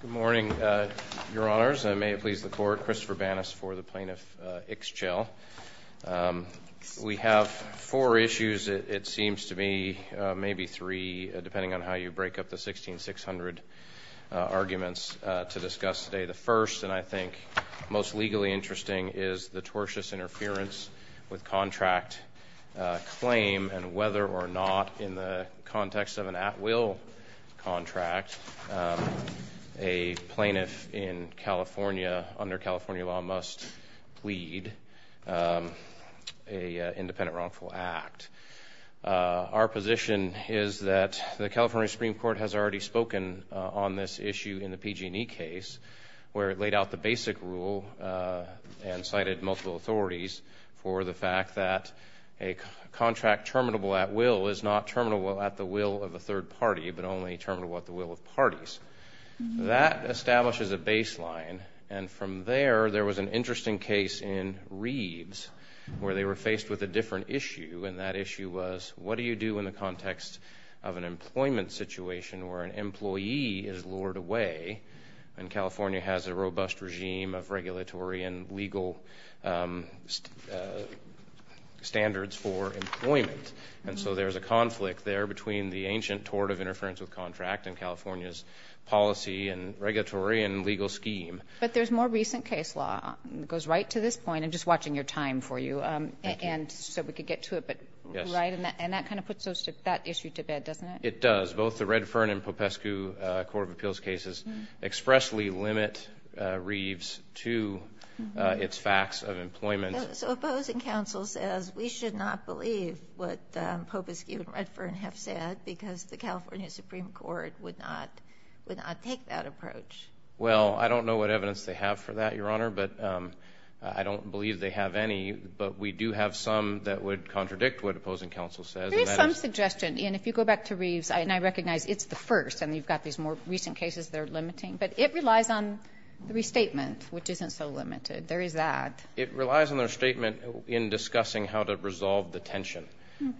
Good morning, Your Honors, and may it please the Court, Christopher Banas for the Plaintiff Ixchel. We have four issues, it seems to me, maybe three, depending on how you break up the 1,600 arguments to discuss today. The first, and I think most legally interesting, is the tortious interference with contract claim, and whether or not, in the context of an at-will contract, a plaintiff in California under California law must plead an independent wrongful act. Our position is that the California Supreme Court has already spoken on this issue in the PG&E case, where it laid out the basic rule and cited multiple authorities for the fact that a contract terminable at will is not terminable at the will of a third party, but only terminable at the will of parties. That establishes a baseline, and from there, there was an interesting case in Reeves, where they were faced with a different issue, and that issue was, what do you do in the context of an employment situation, where an employee is lured away, and California has a robust regime of regulatory and legal standards for employment, and so there's a conflict there between the ancient tort of interference with contract and California's policy and regulatory and legal scheme. But there's more recent case law, it goes right to this point, I'm just watching your time for you, and so we could get to it, but, right, and that kind of puts that issue to bed, doesn't it? It does. Both the Redfern and Popescu Court of Appeals cases expressly limit Reeves to its facts of employment. So Opposing Counsel says, we should not believe what Popescu and Redfern have said, because the California Supreme Court would not take that approach. Well, I don't know what evidence they have for that, Your Honor, but I don't believe they have any, but we do have some that would contradict what Opposing Counsel says. There is some suggestion, and if you go back to Reeves, and I recognize it's the first, and you've got these more recent cases that are limiting, but it relies on the restatement, which isn't so limited, there is that. It relies on the restatement in discussing how to resolve the tension,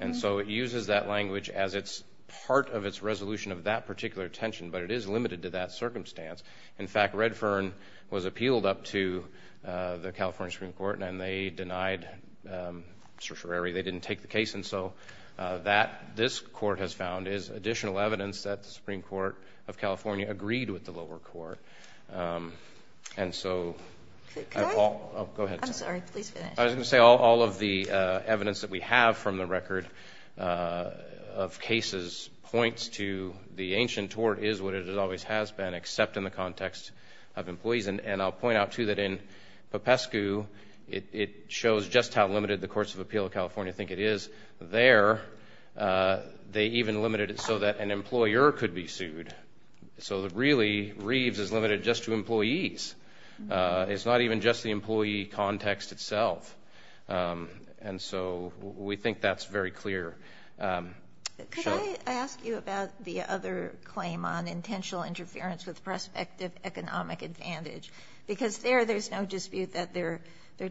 and so it uses that language as it's part of its resolution of that particular tension, but it is limited to that circumstance. In fact, Redfern was appealed up to the California Supreme Court, and they denied certiorari, they didn't take the case, and so that, this Court has found, is additional evidence that the Supreme Court of California agreed with the lower court. And so, Paul, go ahead. I'm sorry, please finish. I was going to say, all of the evidence that we have from the record of cases points to the ancient tort is what it always has been, except in the context of employees, and I'll point out, too, that in Popescu, it shows just how limited the Courts of Appeal of California think it is. There, they even limited it so that an employer could be sued. So really, Reeves is limited just to employees. It's not even just the employee context itself. And so, we think that's very clear. Sure. Could I ask you about the other claim on intentional interference with prospective economic advantage? Because there, there's no dispute that there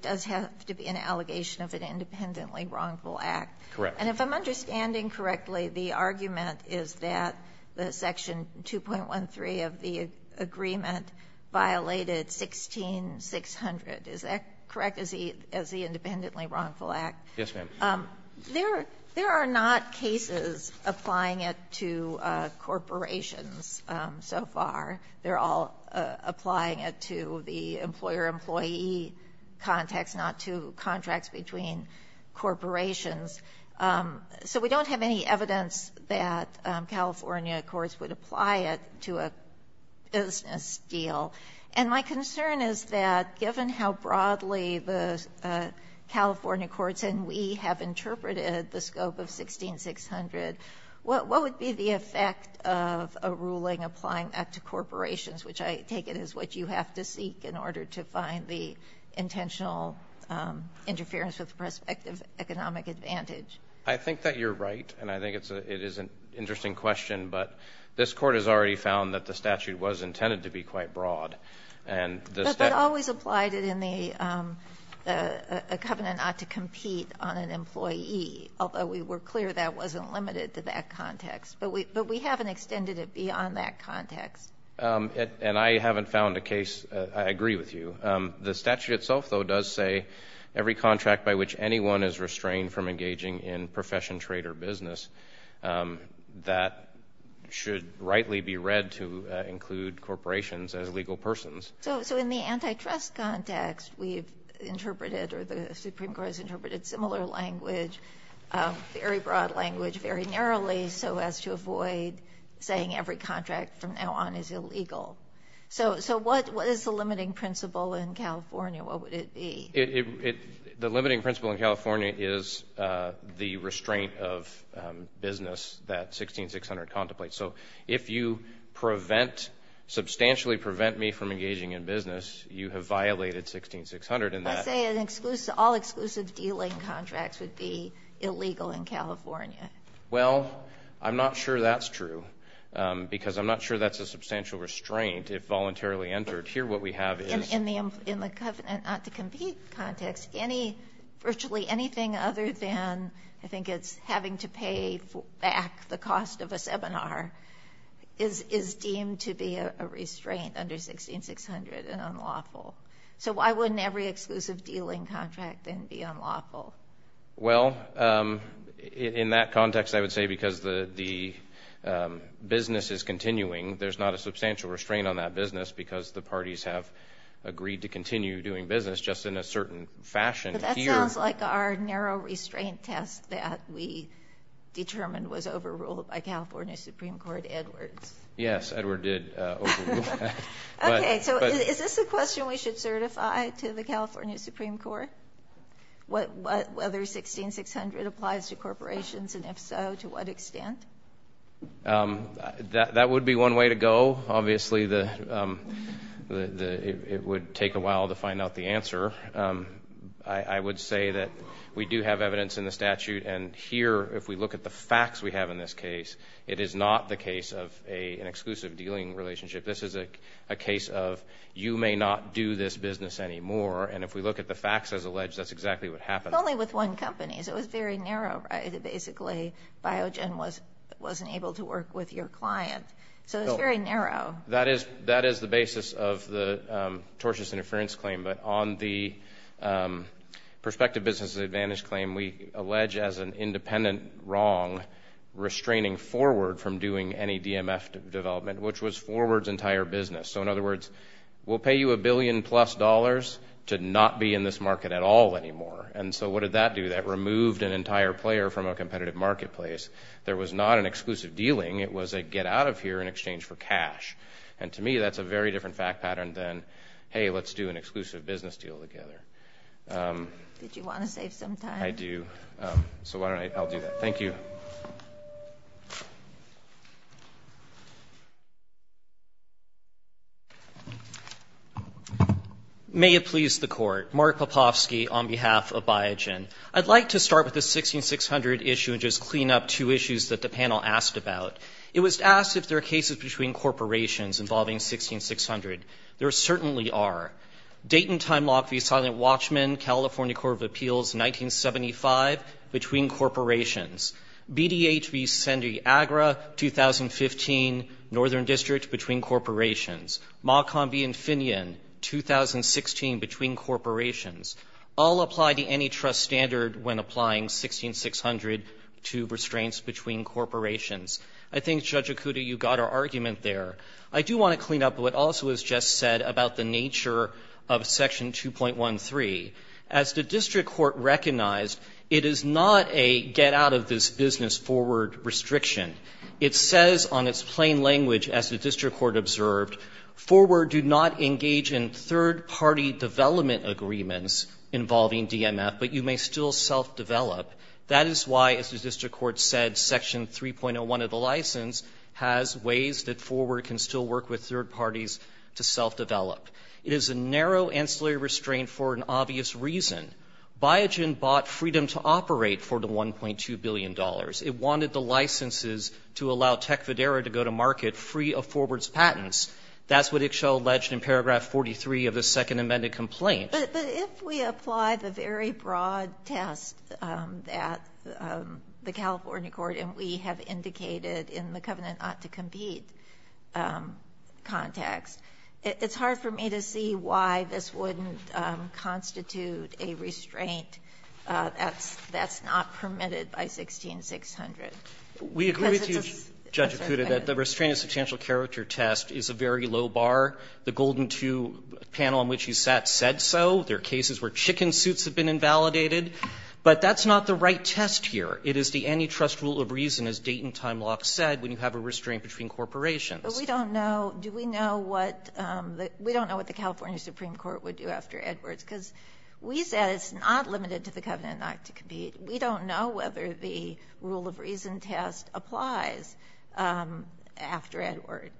does have to be an allegation of an independently wrongful act. Correct. And if I'm understanding correctly, the argument is that the section 2.13 of the agreement violated 16600. Is that correct, as the independently wrongful act? Yes, ma'am. There are not cases applying it to corporations so far. They're all applying it to the employer-employee context, not to contracts between corporations. So we don't have any evidence that California courts would apply it to a business deal. And my concern is that, given how broadly the California courts and we have interpreted the scope of 16600, what would be the effect of a ruling applying that to corporations, which I take it is what you have to seek in order to find the intentional interference with prospective economic advantage? I think that you're right. And I think it is an interesting question. But this Court has already found that the statute was intended to be quite broad. But that always applied it in the covenant not to compete on an employee, although we were clear that wasn't limited to that context. But we haven't extended it beyond that context. And I haven't found a case, I agree with you. The statute itself, though, does say every contract by which anyone is restrained from engaging in profession, trade, or business, that should rightly be read to include corporations as legal persons. So in the antitrust context, we've interpreted, or the Supreme Court has interpreted, similar language, very broad language, very narrowly, so as to avoid saying every contract from now on is illegal. So what is the limiting principle in California? What would it be? The limiting principle in California is the restraint of business that 16600 contemplates. So if you prevent, substantially prevent me from engaging in business, you have violated 16600 in that. Let's say an exclusive, all exclusive dealing contracts would be illegal in California. Well, I'm not sure that's true. Because I'm not sure that's a substantial restraint if voluntarily entered. Here what we have is. In the covenant not to compete context, any, virtually anything other than, I think it's having to pay back the cost of a seminar is deemed to be a restraint under 16600 and unlawful. So why wouldn't every exclusive dealing contract then be unlawful? Well, in that context, I would say because the business is continuing, there's not a substantial restraint on that business because the parties have agreed to continue doing business just in a certain fashion here. Sounds like our narrow restraint test that we determined was overruled by California Supreme Court Edwards. Yes, Edward did overrule that. Okay, so is this a question we should certify to the California Supreme Court? Whether 16600 applies to corporations, and if so, to what extent? That would be one way to go, obviously. It would take a while to find out the answer. I would say that we do have evidence in the statute, and here, if we look at the facts we have in this case, it is not the case of an exclusive dealing relationship. This is a case of you may not do this business anymore, and if we look at the facts as alleged, that's exactly what happened. Only with one company, so it was very narrow, right? Basically, Biogen wasn't able to work with your client, so it's very narrow. That is the basis of the tortious interference claim, but on the prospective business advantage claim, we allege as an independent wrong restraining Forward from doing any DMF development, which was Forward's entire business, so in other words, we'll pay you a billion plus dollars to not be in this market at all anymore, and so what did that do? That removed an entire player from a competitive marketplace. There was not an exclusive dealing. It was a get out of here in exchange for cash, and to me, that's a very different fact pattern than, hey, let's do an exclusive business deal together. Did you want to save some time? I do, so why don't I, I'll do that. Thank you. May it please the Court. Mark Popofsky on behalf of Biogen. I'd like to start with the 1600 issue and just clean up two issues that the panel asked about. It was asked if there are cases between corporations involving 1600. There certainly are. Dayton Timelock v. Silent Watchmen, California Court of Appeals, 1975, between corporations. BDH v. San Diego, 2015, Northern District, between corporations. Mockham v. Infineon, 2016, between corporations. I'll apply the antitrust standard when applying 1600 to restraints between corporations. I think, Judge Okuda, you got our argument there. I do want to clean up what also was just said about the nature of Section 2.13. As the district court recognized, it is not a get out of this business forward restriction. It says on its plain language, as the district court observed, forward do not engage in third party development agreements involving DMF, but you may still self-develop. That is why, as the district court said, Section 3.01 of the license has ways that forward can still work with third parties to self-develop. It is a narrow ancillary restraint for an obvious reason. Biogen bought freedom to operate for the $1.2 billion. It wanted the licenses to allow Tecfidera to go to market free of forward's patents. That's what Ixchel alleged in paragraph 43 of the second amended complaint. But if we apply the very broad test that the California court and we have indicated in the covenant not to compete context, it's hard for me to see why this wouldn't constitute a restraint that's not permitted by 16600. Because it's a fair thing. We agree with you, Judge Acuda, that the restraint of substantial character test is a very low bar. The Golden II panel on which you sat said so. There are cases where chicken suits have been invalidated. But that's not the right test here. It is the antitrust rule of reason, as Dayton Timelock said, when you have a restraint between corporations. But we don't know, do we know what the California Supreme Court would do after Edwards. Because we said it's not limited to the covenant not to compete. We don't know whether the rule of reason test applies after Edward.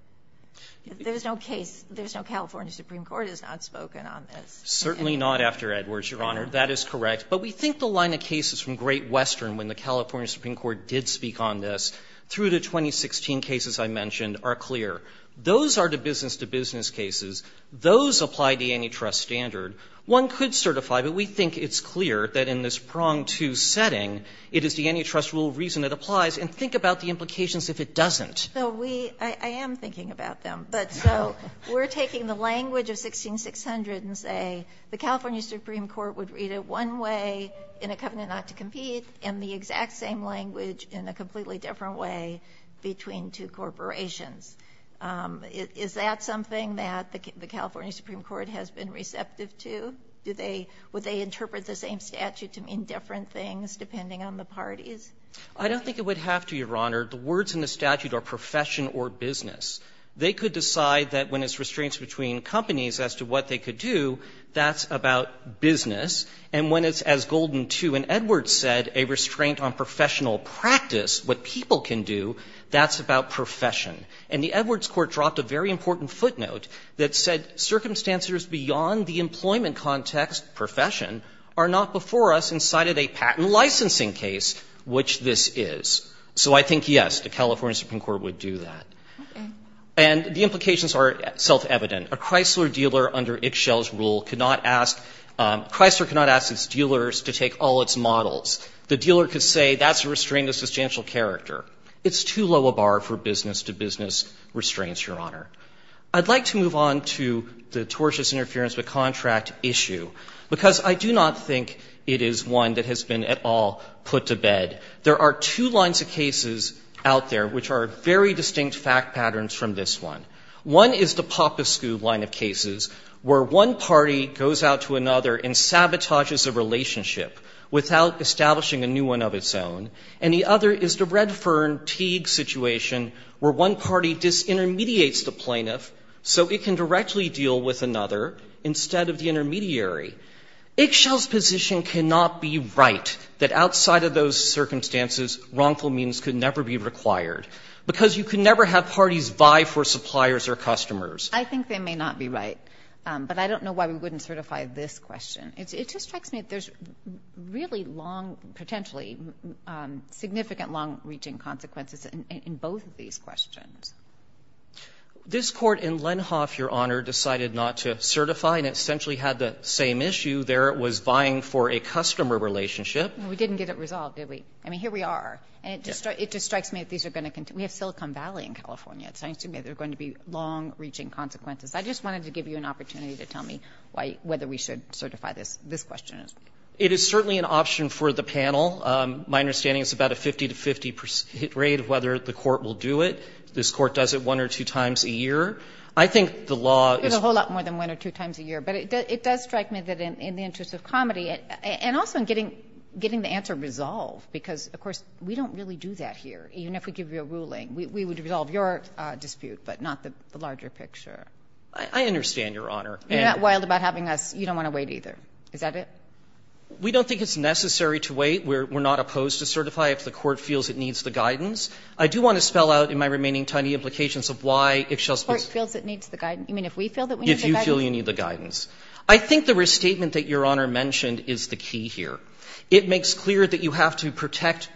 There's no case, there's no California Supreme Court has not spoken on this. Certainly not after Edwards, Your Honor. That is correct. But we think the line of cases from Great Western, when the California Supreme Court did speak on this, through the 2016 cases I mentioned, are clear. Those are the business to business cases. Those apply the antitrust standard. One could certify, but we think it's clear that in this pronged II setting, it is the antitrust rule of reason that applies. And think about the implications if it doesn't. So we – I am thinking about them. But so we're taking the language of 16600 and say the California Supreme Court would read it one way in a covenant not to compete and the exact same language in a completely different way between two corporations. Is that something that the California Supreme Court has been receptive to? Do they – would they interpret the same statute to mean different things depending on the parties? I don't think it would have to, Your Honor. The words in the statute are profession or business. They could decide that when it's restraints between companies as to what they could do, that's about business. And when it's, as Golden II and Edwards said, a restraint on professional practice, what people can do, that's about profession. And the Edwards court dropped a very important footnote that said, Circumstancers beyond the employment context, profession, are not before us in sight of a patent licensing case, which this is. So I think, yes, the California Supreme Court would do that. And the implications are self-evident. A Chrysler dealer under Ixchel's rule could not ask – Chrysler could not ask its dealers to take all its models. The dealer could say that's a restraint of substantial character. It's too low a bar for business-to-business restraints, Your Honor. I'd like to move on to the tortious interference with contract issue, because I do not think it is one that has been at all put to bed. There are two lines of cases out there which are very distinct fact patterns from this one. One is the Popescu line of cases, where one party goes out to another and sabotages a relationship without establishing a new one of its own, and the other is the Red Fern Teague situation, where one party disintermediates the plaintiff so it can directly deal with another instead of the intermediary. Ixchel's position cannot be right that outside of those circumstances, wrongful means could never be required, because you can never have parties vie for suppliers or customers. I think they may not be right, but I don't know why we wouldn't certify this question. It just strikes me that there's really long, potentially significant long-reaching consequences in both of these questions. This Court in Lenhoff, Your Honor, decided not to certify and essentially had the same issue there. It was vying for a customer relationship. We didn't get it resolved, did we? I mean, here we are. And it just strikes me that these are going to continue. We have Silicon Valley in California. It strikes me that there are going to be long-reaching consequences. I just wanted to give you an opportunity to tell me why we should certify this question. It is certainly an option for the panel. My understanding is about a 50-to-50 rate of whether the Court will do it. This Court does it one or two times a year. I think the law is going to be a lot more than one or two times a year. But it does strike me that in the interest of comedy and also in getting the answer resolved, because, of course, we don't really do that here. Even if we give you a ruling, we would resolve your dispute, but not the larger picture. I understand, Your Honor. You're not wild about having us you don't want to wait either. Is that it? We don't think it's necessary to wait. We're not opposed to certify if the Court feels it needs the guidance. I do want to spell out in my remaining time the implications of why Ixchel's position. Or it feels it needs the guidance. You mean if we feel that we need the guidance? If you feel you need the guidance. I think the restatement that Your Honor mentioned is the key here. It makes clear that you have to protect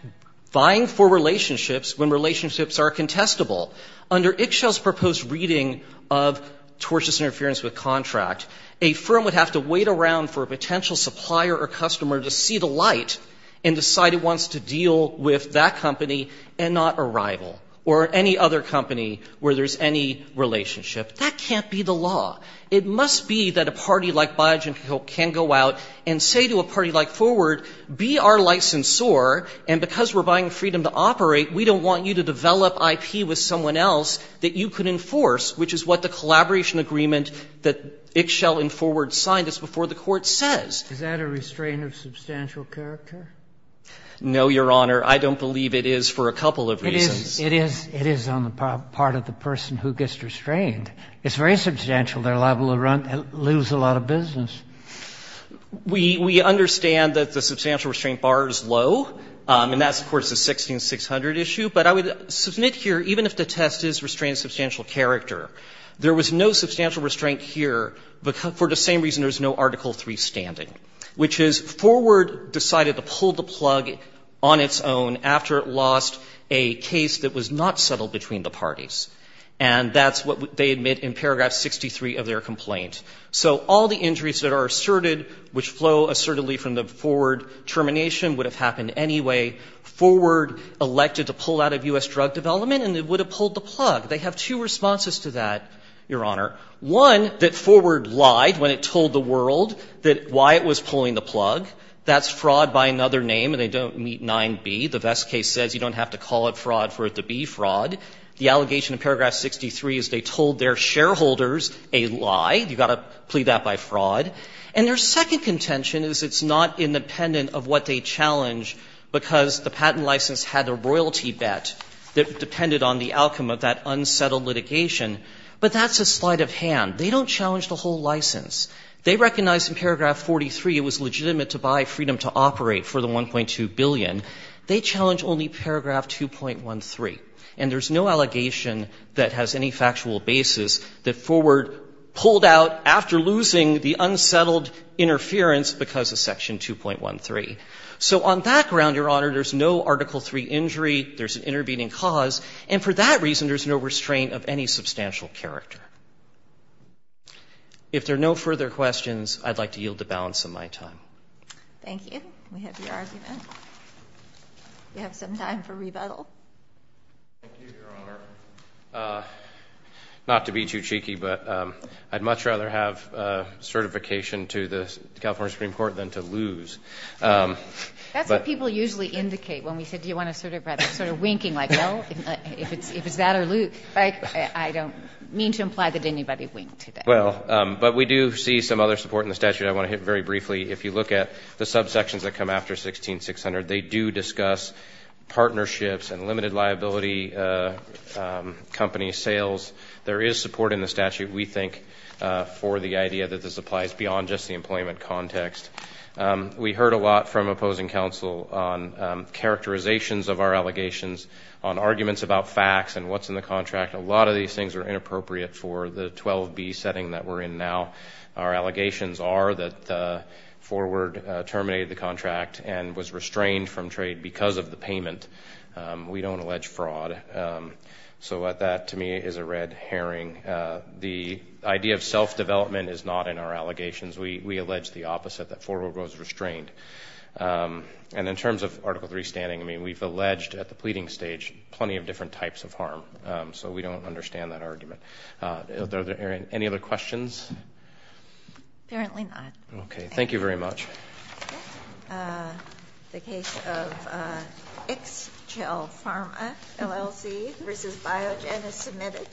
buying for relationships when relationships are contestable. Under Ixchel's proposed reading of tortious interference with contract, a firm would have to wait around for a potential supplier or customer to see the light and decide it wants to deal with that company and not a rival or any other company where there's any relationship. That can't be the law. It must be that a party like Biogen can go out and say to a party like Forward, be our licensor. And because we're buying freedom to operate, we don't want you to develop IP with someone else that you could enforce, which is what the collaboration agreement that was outlined is before the Court says. Sotomayor, is that a restraint of substantial character? No, Your Honor. I don't believe it is for a couple of reasons. It is on the part of the person who gets restrained. It's very substantial. They're liable to lose a lot of business. We understand that the substantial restraint bar is low, and that's, of course, a 16600 issue. But I would submit here, even if the test is restraint of substantial character, there was no substantial restraint here for the same reason there's no Article III standing, which is Forward decided to pull the plug on its own after it lost a case that was not settled between the parties. And that's what they admit in paragraph 63 of their complaint. So all the injuries that are asserted, which flow assertedly from the Forward termination, would have happened anyway. Forward elected to pull out of U.S. drug development, and it would have pulled the plug. They have two responses to that, Your Honor. One, that Forward lied when it told the world that why it was pulling the plug. That's fraud by another name, and they don't meet 9b. The Vest case says you don't have to call it fraud for it to be fraud. The allegation in paragraph 63 is they told their shareholders a lie. You've got to plead that by fraud. And their second contention is it's not independent of what they challenge, because the patent license had a royalty bet that depended on the outcome of that unsettled litigation. But that's a sleight of hand. They don't challenge the whole license. They recognize in paragraph 43 it was legitimate to buy freedom to operate for the $1.2 billion. They challenge only paragraph 2.13. And there's no allegation that has any factual basis that Forward pulled out after losing the unsettled interference because of section 2.13. So on that ground, Your Honor, there's no Article III injury. There's an intervening cause. And for that reason, there's no restraint of any substantial character. If there are no further questions, I'd like to yield the balance of my time. Thank you. We have your argument. You have some time for rebuttal. Thank you, Your Honor. Not to be too cheeky, but I'd much rather have certification to the California Supreme Court than to lose. That's what people usually indicate when we say, do you want to sort of rather winking like, well, if it's that or lose, I don't mean to imply that anybody winked today. Well, but we do see some other support in the statute. I want to hit very briefly, if you look at the subsections that come after 16-600, they do discuss partnerships and limited liability company sales. There is support in the statute, we think, for the idea that this applies beyond just the employment context. We heard a lot from opposing counsel on characterizations of our allegations, on arguments about facts and what's in the contract. A lot of these things are inappropriate for the 12B setting that we're in now. Our allegations are that Forward terminated the contract and was restrained from trade because of the payment. We don't allege fraud. So that, to me, is a red herring. The idea of self-development is not in our allegations. We allege the opposite, that Forward was restrained. And in terms of Article III standing, I mean, we've alleged at the pleading stage plenty of different types of harm. So we don't understand that argument. Any other questions? Apparently not. Okay. Thank you very much. The case of Ixchel Pharma LLC versus Biogen is submitted.